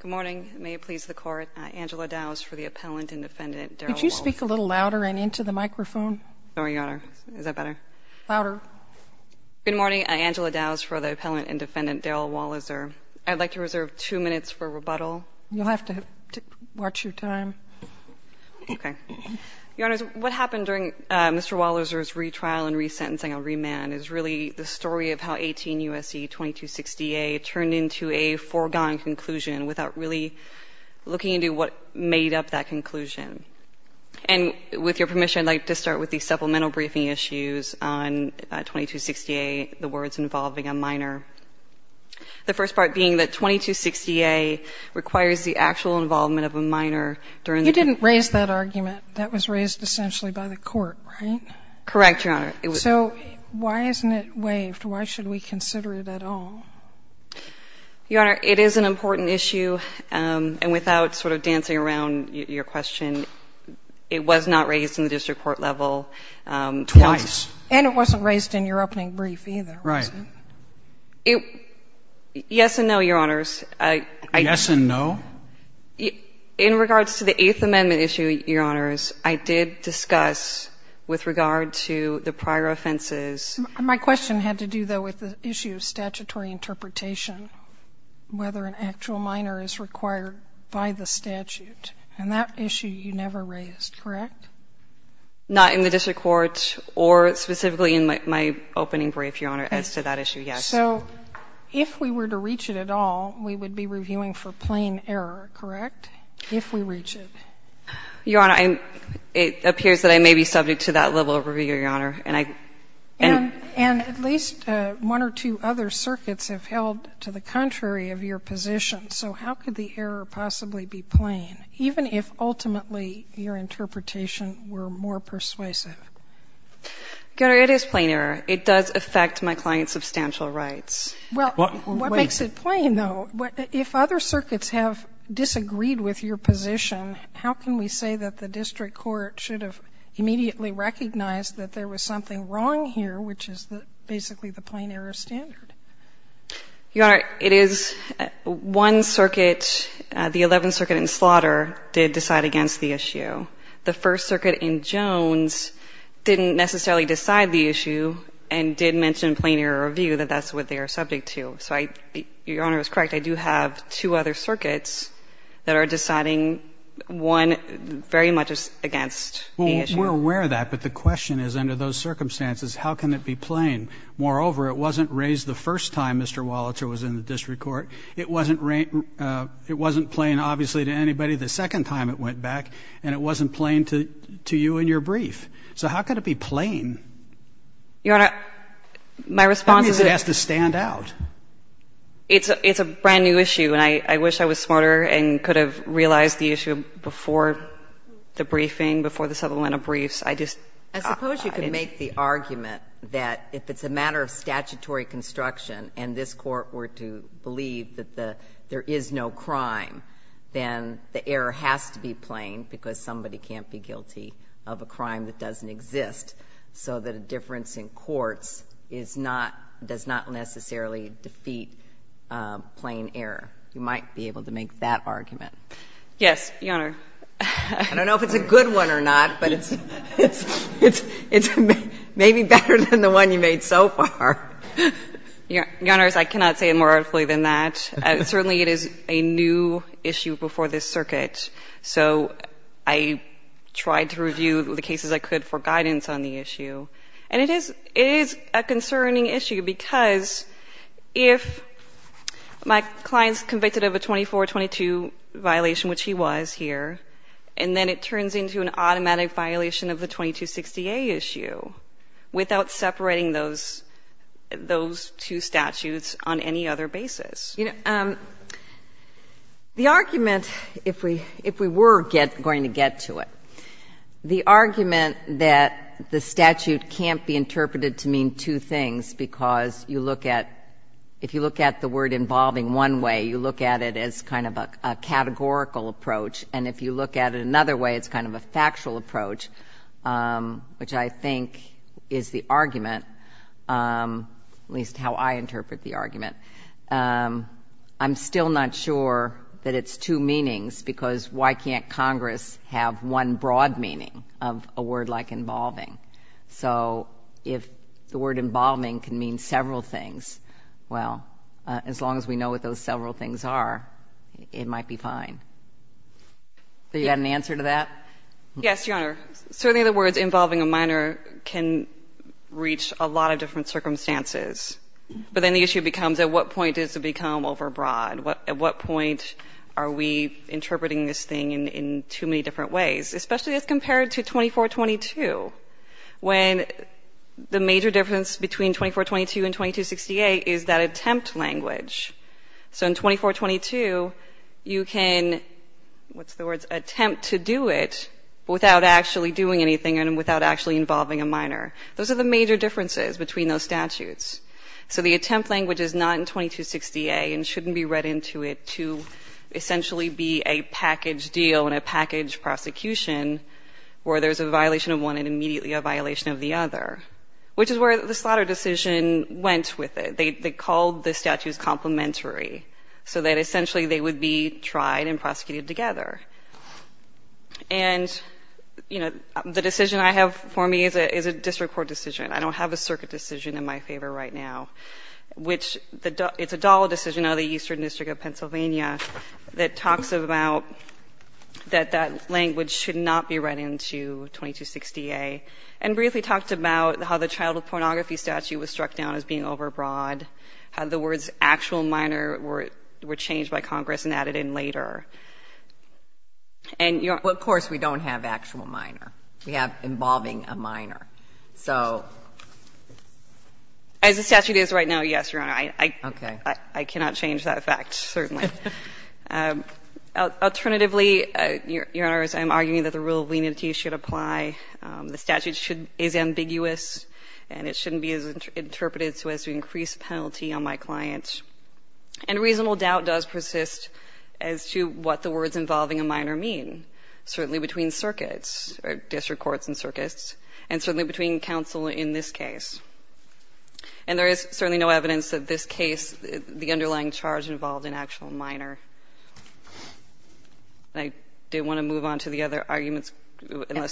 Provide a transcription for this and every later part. Good morning. May it please the Court, Angela Dowse for the Appellant and Defendant, Darryl Walizer. Could you speak a little louder and into the microphone? Sorry, Your Honor. Is that better? Louder. Good morning. Angela Dowse for the Appellant and Defendant, Darryl Walizer. I'd like to reserve two minutes for rebuttal. You'll have to watch your time. Okay. Your Honors, what happened during Mr. Walizer's retrial and resentencing on remand is really the story of how 18 U.S.C. 2260A turned into a foregone conclusion without really looking into what made up that conclusion. And with your permission, I'd like to start with the supplemental briefing issues on 2260A, the words involving a minor. The first part being that 2260A requires the actual involvement of a minor during the You didn't raise that argument. That was raised essentially by the Court, right? Correct, Your Honor. So why isn't it waived? Why should we consider it at all? Your Honor, it is an important issue, and without sort of dancing around your question, it was not raised in the district court level twice. Twice. And it wasn't raised in your opening brief either, was it? Right. Yes and no, Your Honors. Yes and no? In regards to the Eighth Amendment issue, Your Honors, I did discuss with regard to the prior offenses. My question had to do, though, with the issue of statutory interpretation, whether an actual minor is required by the statute. And that issue you never raised, correct? Not in the district court or specifically in my opening brief, Your Honor, as to that issue, yes. So if we were to reach it at all, we would be reviewing for plain error, correct, if we reach it? Your Honor, it appears that I may be subject to that level of review, Your Honor. And at least one or two other circuits have held to the contrary of your position. So how could the error possibly be plain, even if ultimately your interpretation were more persuasive? Your Honor, it is plain error. It does affect my client's substantial rights. Well, what makes it plain, though? If other circuits have disagreed with your position, how can we say that the district court should have immediately recognized that there was something wrong here, which is basically the plain error standard? Your Honor, it is one circuit, the Eleventh Circuit in Slaughter, did decide against the issue. The First Circuit in Jones didn't necessarily decide the issue and did mention plain error review, that that's what they are subject to. So Your Honor is correct. I do have two other circuits that are deciding one very much against the issue. Well, we're aware of that. But the question is, under those circumstances, how can it be plain? Moreover, it wasn't raised the first time Mr. Wallacher was in the district court. It wasn't plain, obviously, to anybody the second time it went back. And it wasn't plain to you in your brief. So how can it be plain? Your Honor, my response is that It means it has to stand out. It's a brand-new issue. And I wish I was smarter and could have realized the issue before the briefing, before the supplemental briefs. I just I suppose you could make the argument that if it's a matter of statutory construction and this Court were to believe that there is no crime, then the error has to be plain because somebody can't be guilty of a crime that doesn't exist. So that a difference in courts is not, does not necessarily defeat plain error. You might be able to make that argument. Yes, Your Honor. I don't know if it's a good one or not, but it's maybe better than the one you made so far. Your Honor, I cannot say it more artfully than that. Certainly it is a new issue before this circuit. So I tried to review the cases I could for guidance on the issue. And it is a concerning issue because if my client's convicted of a 24-22 violation, which he was here, and then it turns into an automatic violation of the 2260A issue without separating those two statutes on any other basis. The argument, if we were going to get to it, the argument that the statute can't be interpreted to mean two things because you look at if you look at the word involving one way, you look at it as kind of a categorical approach. And if you look at it another way, it's kind of a factual approach, which I think is the argument, at least how I interpret the argument. I'm still not sure that it's two meanings because why can't Congress have one broad meaning of a word like involving? So if the word involving can mean several things, well, as long as we know what those several things are, it might be fine. Have you got an answer to that? Yes, Your Honor. Certainly the words involving a minor can reach a lot of different circumstances. But then the issue becomes at what point does it become overbroad? At what point are we interpreting this thing in too many different ways, especially as compared to 2422, when the major difference between 2422 and 2268 is that attempt language. So in 2422, you can, what's the words, attempt to do it without actually doing anything and without actually involving a minor. Those are the major differences between those statutes. So the attempt language is not in 2268 and shouldn't be read into it to essentially be a package deal and a package prosecution where there's a violation of one and immediately a violation of the other, which is where the slaughter decision went with it. They called the statutes complementary so that essentially they would be tried and prosecuted together. And, you know, the decision I have for me is a district court decision. I don't have a circuit decision in my favor right now, which it's a DALA decision out of the Eastern District of Pennsylvania that talks about that that language should not be read into 2268 and briefly talked about how the child pornography statute was struck down as being overbroad, how the words actual minor were changed by Congress and added in later. And, Your Honor ---- Well, of course, we don't have actual minor. We have involving a minor. So ---- As the statute is right now, yes, Your Honor. Okay. I cannot change that fact, certainly. Alternatively, Your Honors, I'm arguing that the rule of leniency should apply. The statute should be ambiguous, and it shouldn't be interpreted so as to increase penalty on my client. And reasonable doubt does persist as to what the words involving a minor mean, certainly between circuits or district courts and circuits, and certainly between counsel in this case. And there is certainly no evidence that this case, the underlying charge involved an actual minor. I did want to move on to the other arguments.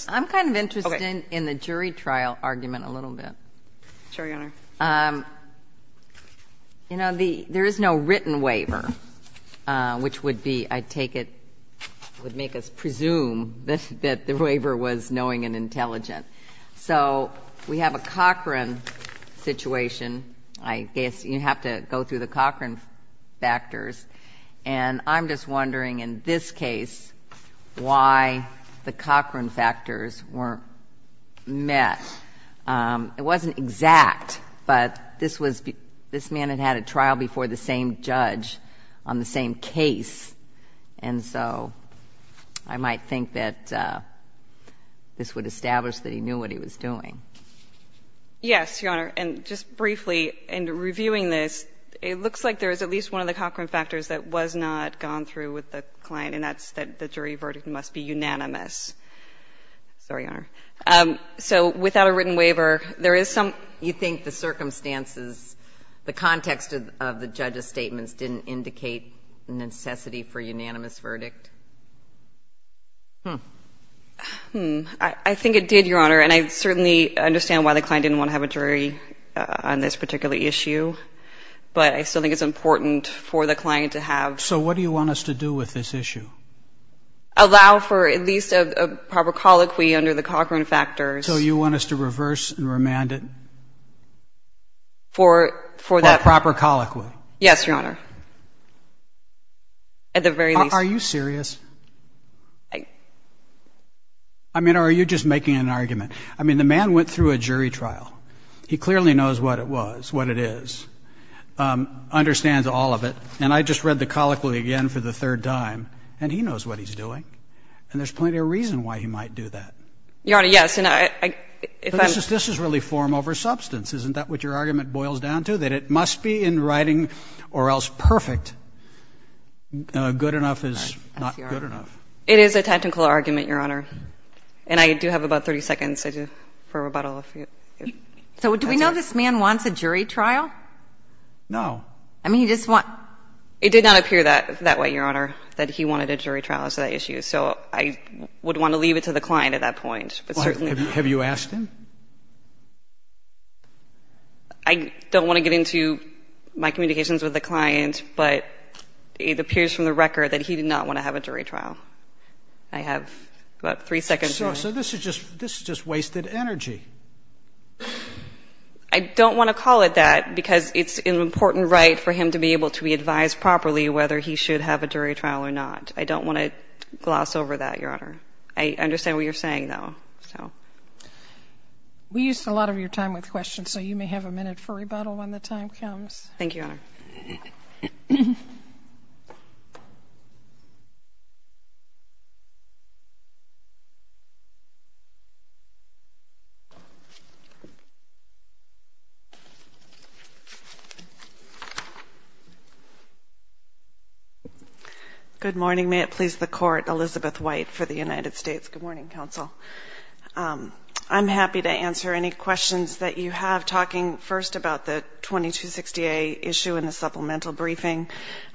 I'm kind of interested in the jury trial argument a little bit. Sure, Your Honor. You know, there is no written waiver, which would be, I take it, would make us presume that the waiver was knowing and intelligent. So we have a Cochran situation. I guess you have to go through the Cochran factors. And I'm just wondering in this case why the Cochran factors weren't met. It wasn't exact, but this man had had a trial before the same judge on the same case. And so I might think that this would establish that he knew what he was doing. Yes, Your Honor. And just briefly, in reviewing this, it looks like there is at least one of the Cochran factors that was not gone through with the client, and that's that the jury verdict must be unanimous. Sorry, Your Honor. So without a written waiver, there is some you think the circumstances, the context of the judge's statements didn't indicate necessity for unanimous verdict? I think it did, Your Honor. And I certainly understand why the client didn't want to have a jury on this particular issue. But I still think it's important for the client to have. So what do you want us to do with this issue? Allow for at least a proper colloquy under the Cochran factors. So you want us to reverse and remand it? For the proper colloquy. Yes, Your Honor. At the very least. Are you serious? I mean, are you just making an argument? I mean, the man went through a jury trial. He clearly knows what it was, what it is, understands all of it. And I just read the colloquy again for the third time. And he knows what he's doing. And there's plenty of reason why he might do that. Your Honor, yes. This is really form over substance. Isn't that what your argument boils down to? That it must be in writing or else perfect. Good enough is not good enough. It is a tactical argument, Your Honor. And I do have about 30 seconds for rebuttal. So do we know this man wants a jury trial? No. I mean, he just wants. It did not appear that way, Your Honor, that he wanted a jury trial as to that issue. So I would want to leave it to the client at that point. Have you asked him? I don't want to get into my communications with the client. But it appears from the record that he did not want to have a jury trial. I have about three seconds. So this is just wasted energy. I don't want to call it that because it's an important right for him to be able to be advised properly whether he should have a jury trial or not. I don't want to gloss over that, Your Honor. I understand what you're saying, though. We used a lot of your time with questions, so you may have a minute for rebuttal when the time comes. Thank you, Your Honor. Good morning. May it please the Court, Elizabeth White for the United States. Good morning, Counsel. I'm happy to answer any questions that you have. Talking first about the 2260A issue in the supplemental briefing,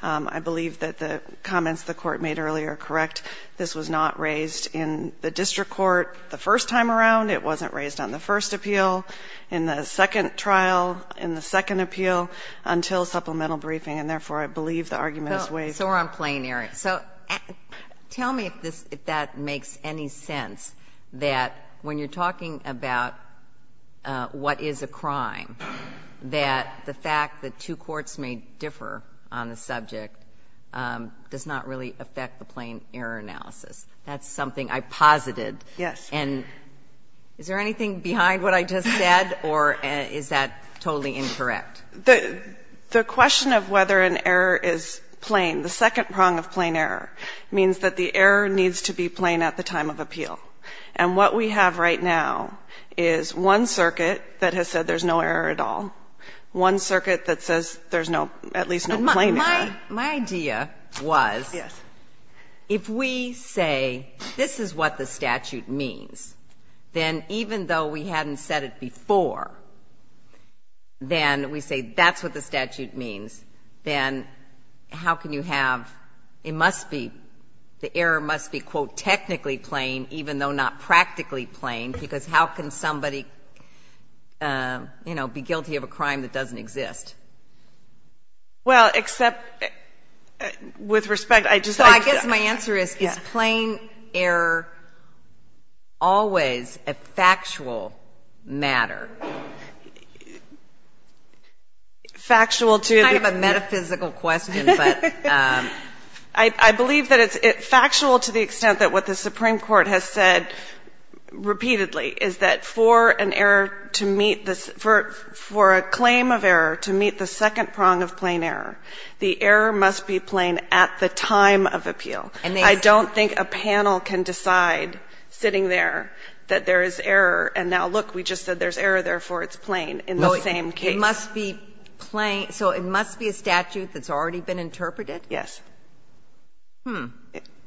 I believe that the comments the Court made earlier are correct. This was not raised in the district court the first time around. It wasn't raised on the first appeal, in the second trial, in the second appeal, until supplemental briefing. And therefore, I believe the argument is waived. So we're on plain error. So tell me if that makes any sense, that when you're talking about what is a crime, that the fact that two courts may differ on the subject does not really affect the plain error analysis. That's something I posited. Yes. And is there anything behind what I just said, or is that totally incorrect? The question of whether an error is plain, the second prong of plain error, means that the error needs to be plain at the time of appeal. And what we have right now is one circuit that has said there's no error at all, one circuit that says there's at least no plain error. My idea was if we say this is what the statute means, then even though we hadn't said it before, then we say that's what the statute means, then how can you have, it must be, the error must be, quote, technically plain, even though not practically plain, because how can somebody, you know, be guilty of a crime that doesn't exist? Well, except with respect, I just. I guess my answer is, is plain error always a factual matter? Factual to. It's kind of a metaphysical question, but. I believe that it's factual to the extent that what the Supreme Court has said repeatedly is that for an error to meet, for a claim of error to meet the second prong of plain error, the error must be plain at the time of appeal. And I don't think a panel can decide, sitting there, that there is error and now, look, we just said there's error, therefore it's plain in the same case. It must be plain. So it must be a statute that's already been interpreted? Yes. Hmm.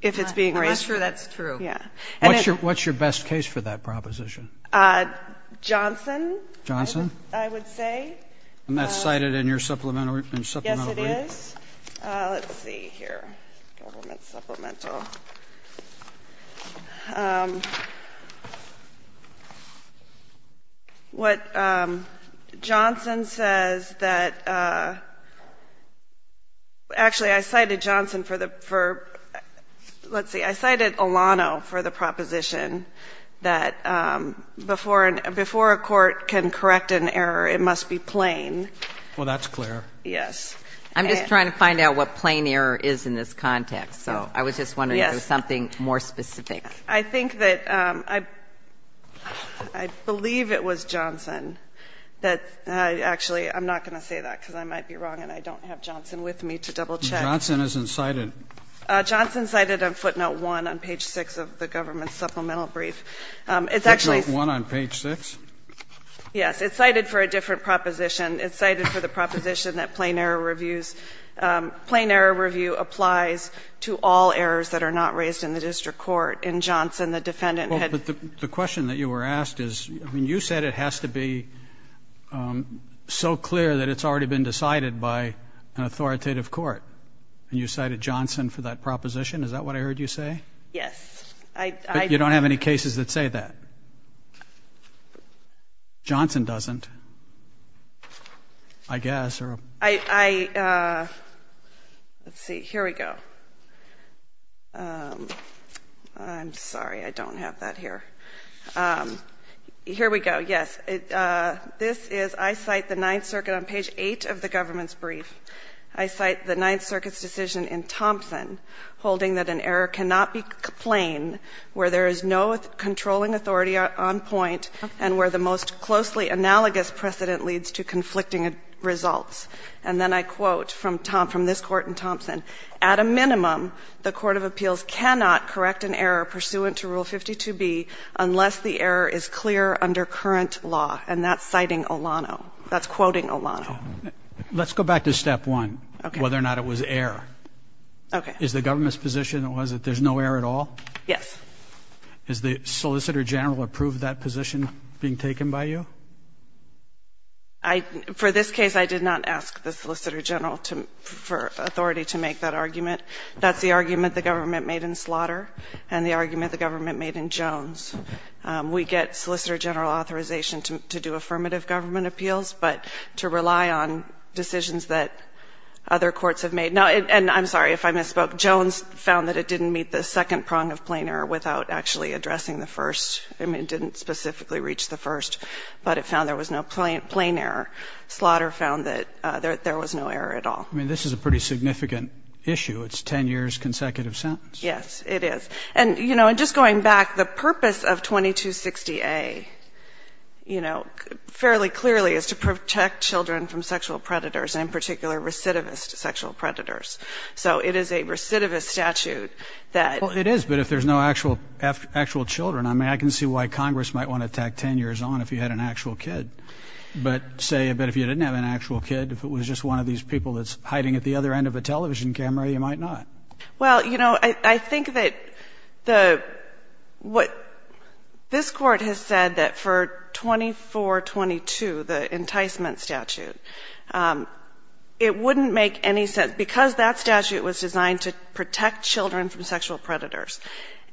If it's being raised. Well, that's true. That's true. Yeah. And if. What's your best case for that proposition? Johnson. Johnson? I would say. And that's cited in your supplemental brief? Yes, it is. Let's see here. Government supplemental. What Johnson says that. Actually, I cited Johnson for the. Let's see, I cited Olano for the proposition that before a court can correct an error, it must be plain. Well, that's clear. Yes. I'm just trying to find out what plain error is in this context. So I was just wondering if there was something more specific. I think that. I believe it was Johnson that. Actually, I'm not going to say that because I might be wrong and I don't have Johnson with me to double check. Johnson isn't cited. Johnson cited on footnote one on page six of the government supplemental brief. It's actually. Footnote one on page six. Yes, it's cited for a different proposition. It's cited for the proposition that plain error reviews. Plain error review applies to all errors that are not raised in the district court. And Johnson, the defendant. The question that you were asked is you said it has to be so clear that it's already been decided by an authoritative court. And you cited Johnson for that proposition. Is that what I heard you say? Yes. You don't have any cases that say that. Johnson doesn't. I guess. Let's see. Here we go. I'm sorry. I don't have that here. Here we go. Yes. This is I cite the Ninth Circuit on page eight of the government's brief. I cite the Ninth Circuit's decision in Thompson holding that an error cannot be plain where there is no controlling authority on point and where the most closely analogous precedent leads to conflicting results. And then I quote from this court in Thompson. At a minimum, the court of appeals cannot correct an error pursuant to Rule 52B unless the error is clear under current law. And that's citing Olano. That's quoting Olano. Let's go back to step one, whether or not it was error. Okay. Is the government's position that there's no error at all? Yes. Has the Solicitor General approved that position being taken by you? For this case, I did not ask the Solicitor General for authority to make that argument. That's the argument the government made in Slaughter and the argument the government made in Jones. We get Solicitor General authorization to do affirmative government appeals, but to rely on decisions that other courts have made. And I'm sorry if I misspoke. Jones found that it didn't meet the second prong of plain error without actually addressing the first. I mean, it didn't specifically reach the first, but it found there was no plain error. Slaughter found that there was no error at all. I mean, this is a pretty significant issue. It's a 10-years consecutive sentence. Yes, it is. And, you know, just going back, the purpose of 2260A, you know, fairly clearly, is to protect children from sexual predators, and in particular, recidivist sexual predators. So it is a recidivist statute that ‑‑ Well, it is, but if there's no actual children. I mean, I can see why Congress might want to tack 10 years on if you had an actual kid. But say, but if you didn't have an actual kid, if it was just one of these people that's hiding at the other end of a television camera, you might not. Well, you know, I think that the ‑‑ what this Court has said that for 2422, the enticement statute, it wouldn't make any sense. Because that statute was designed to protect children from sexual predators,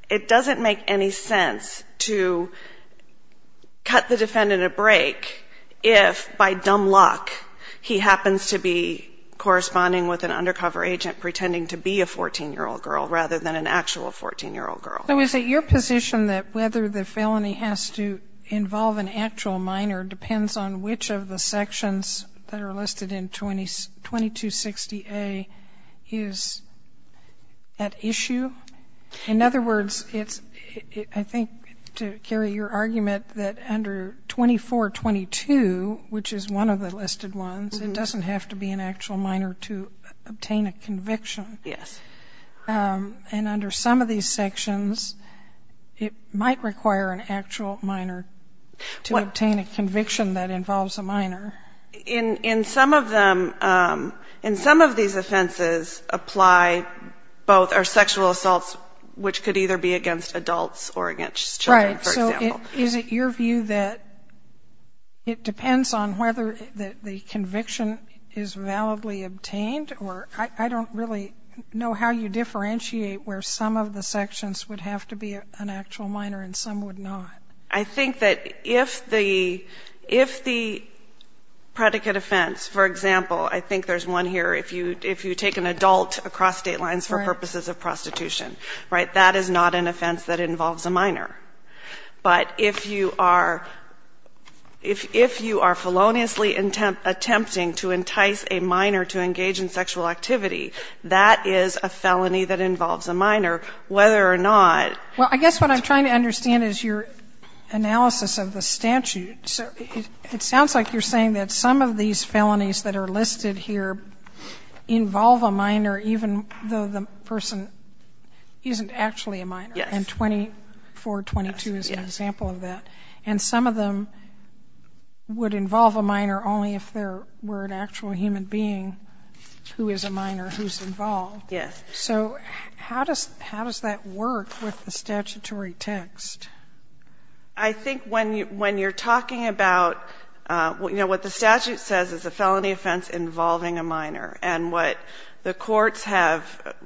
it doesn't make any sense to cut the defendant a break if, by dumb luck, he happens to be corresponding with an undercover agent pretending to be a 14‑year‑old girl rather than an actual 14‑year‑old girl. So is it your position that whether the felony has to involve an actual minor depends on which of the sections that are listed in 2260A is at issue? In other words, it's, I think, to carry your argument, that under 2422, which is one of the listed ones, it doesn't have to be an actual minor to obtain a conviction. Yes. And under some of these sections, it might require an actual minor to obtain a conviction that involves a minor. In some of them, in some of these offenses apply both are sexual assaults, which could either be against adults or against children, for example. Is it your view that it depends on whether the conviction is validly obtained? Or I don't really know how you differentiate where some of the sections would have to be an actual minor and some would not. I think that if the predicate offense, for example, I think there's one here, if you take an adult across state lines for purposes of prostitution, right, then that is not an offense that involves a minor. But if you are feloniously attempting to entice a minor to engage in sexual activity, that is a felony that involves a minor, whether or not that's the case. Well, I guess what I'm trying to understand is your analysis of the statute. It sounds like you're saying that some of these felonies that are listed here involve a minor, even though the person isn't actually a minor. And 422 is an example of that. And some of them would involve a minor only if there were an actual human being who is a minor who's involved. Yes. So how does that work with the statutory text? I think when you're talking about, you know, what the statute says is a felony offense involving a minor. And what the courts have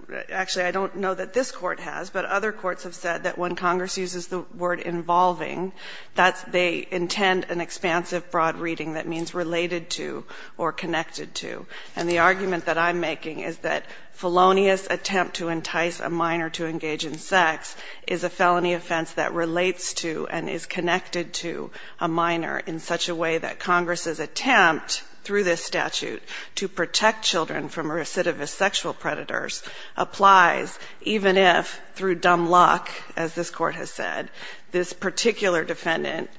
‑‑ actually, I don't know that this court has, but other courts have said that when Congress uses the word involving, they intend an expansive broad reading that means related to or connected to. And the argument that I'm making is that felonious attempt to entice a minor to engage in sex is a felony offense that relates to and is connected to a minor in such a way that Congress's attempt, through this statute, to protect children from recidivist sexual predators applies even if, through dumb luck, as this court has said, this particular defendant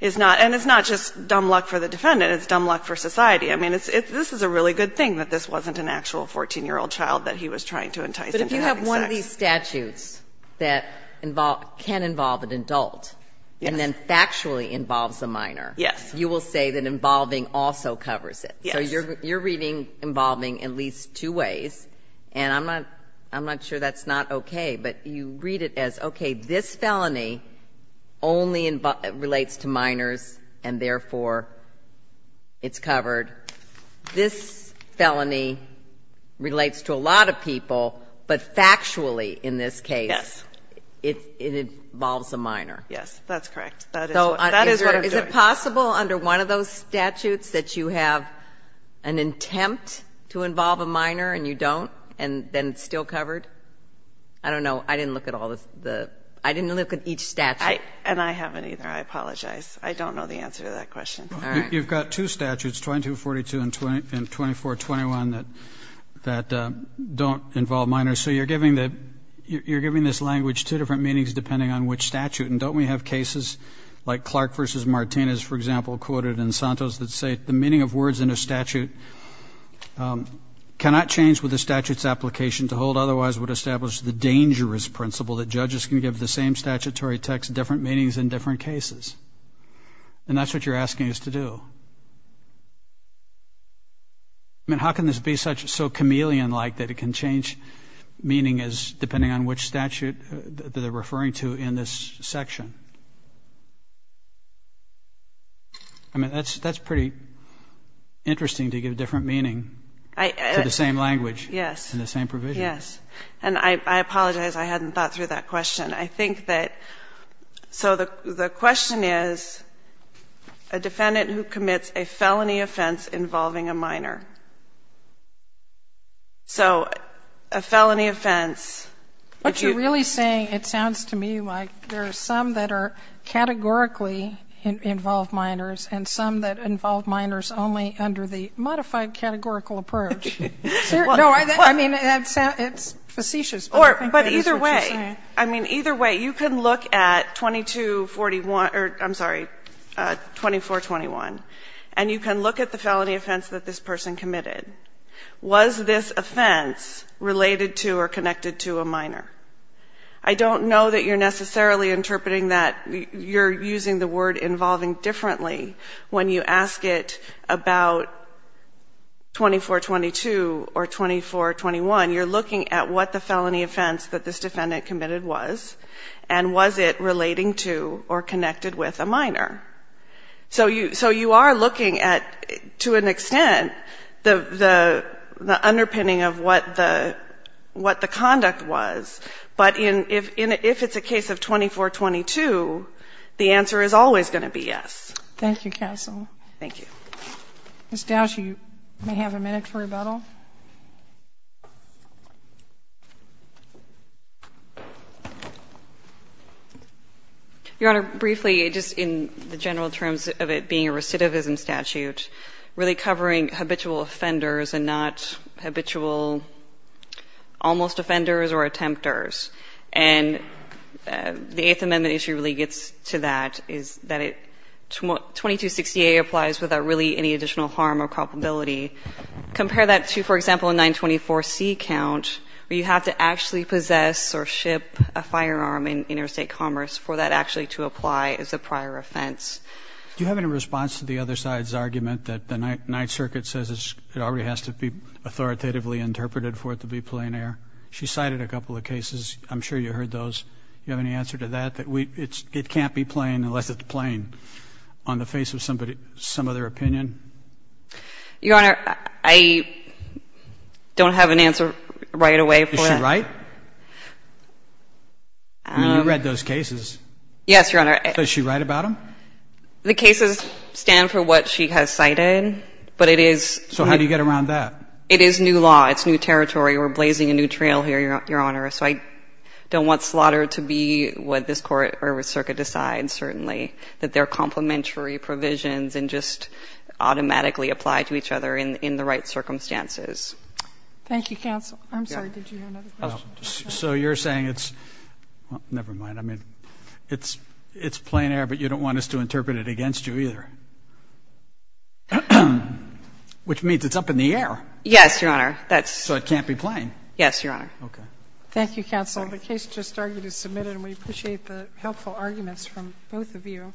is not ‑‑ and it's not just dumb luck for the defendant, it's dumb luck for society. I mean, this is a really good thing that this wasn't an actual 14-year-old child that he was trying to entice into having sex. But if you have one of these statutes that can involve an adult and then factually involves a minor, Yes. you will say that involving also covers it. Yes. So you're reading involving at least two ways. And I'm not sure that's not okay, but you read it as, okay, this felony only relates to minors and, therefore, it's covered. This felony relates to a lot of people, but factually, in this case, it involves a minor. Yes. That's correct. So is it possible under one of those statutes that you have an attempt to involve a minor and you don't and then it's still covered? I don't know. I didn't look at all the ‑‑ I didn't look at each statute. And I haven't either. I apologize. I don't know the answer to that question. All right. You've got two statutes, 2242 and 2421, that don't involve minors. So you're giving this language two different meanings depending on which statute. And don't we have cases like Clark v. Martinez, for example, quoted in Santos, that say the meaning of words in a statute cannot change with the statute's application to hold otherwise would establish the dangerous principle that judges can give the same statutory text different meanings in different cases. And that's what you're asking us to do. I mean, how can this be so chameleon-like that it can change meaning depending on which statute that they're referring to in this section? I mean, that's pretty interesting to give different meaning to the same language. Yes. And the same provision. Yes. And I apologize. I hadn't thought through that question. I think that ‑‑ so the question is a defendant who commits a felony offense involving a minor. So a felony offense ‑‑ What you're really saying, it sounds to me like there are some that are categorically involved minors and some that involve minors only under the modified categorical approach. No, I mean, it's facetious, but I think that is what you're saying. But either way, I mean, either way, you can look at 2241 ‑‑ or, I'm sorry, 2421, and you can look at the felony offense that this person committed. Was this offense related to or connected to a minor? I don't know that you're necessarily interpreting that. You're using the word involving differently when you ask it about 2422 or 2421. You're looking at what the felony offense that this defendant committed was and was it relating to or connected with a minor. So you are looking at, to an extent, the underpinning of what the conduct was. But if it's a case of 2422, the answer is always going to be yes. Thank you, counsel. Thank you. Ms. Dowsey, you may have a minute for rebuttal. Your Honor, briefly, just in the general terms of it being a recidivism statute, really covering habitual offenders and not habitual almost offenders or attempters. And the Eighth Amendment issue really gets to that, is that 2268 applies without really any additional harm or culpability. Compare that to, for example, a 924C count where you have to actually possess or ship a firearm in interstate commerce for that actually to apply as a prior offense. Do you have any response to the other side's argument that the Ninth Circuit says it already has to be authoritatively interpreted for it to be plain air? She cited a couple of cases. I'm sure you heard those. Do you have any answer to that, that it can't be plain unless it's plain on the face of some other opinion? Your Honor, I don't have an answer right away for that. Is she right? I mean, you read those cases. Yes, Your Honor. Is she right about them? The cases stand for what she has cited, but it is new. So how do you get around that? It is new law. It's new territory. We're blazing a new trail here, Your Honor. So I don't want slaughter to be what this Court or Circuit decides, certainly, that they're complementary provisions and just automatically apply to each other in the right circumstances. Thank you, counsel. I'm sorry. Did you have another question? So you're saying it's never mind. I mean, it's plain air, but you don't want us to interpret it against you either, which means it's up in the air. Yes, Your Honor. So it can't be plain. Yes, Your Honor. Okay. Thank you, counsel. The case just argued is submitted, and we appreciate the helpful arguments from both of you.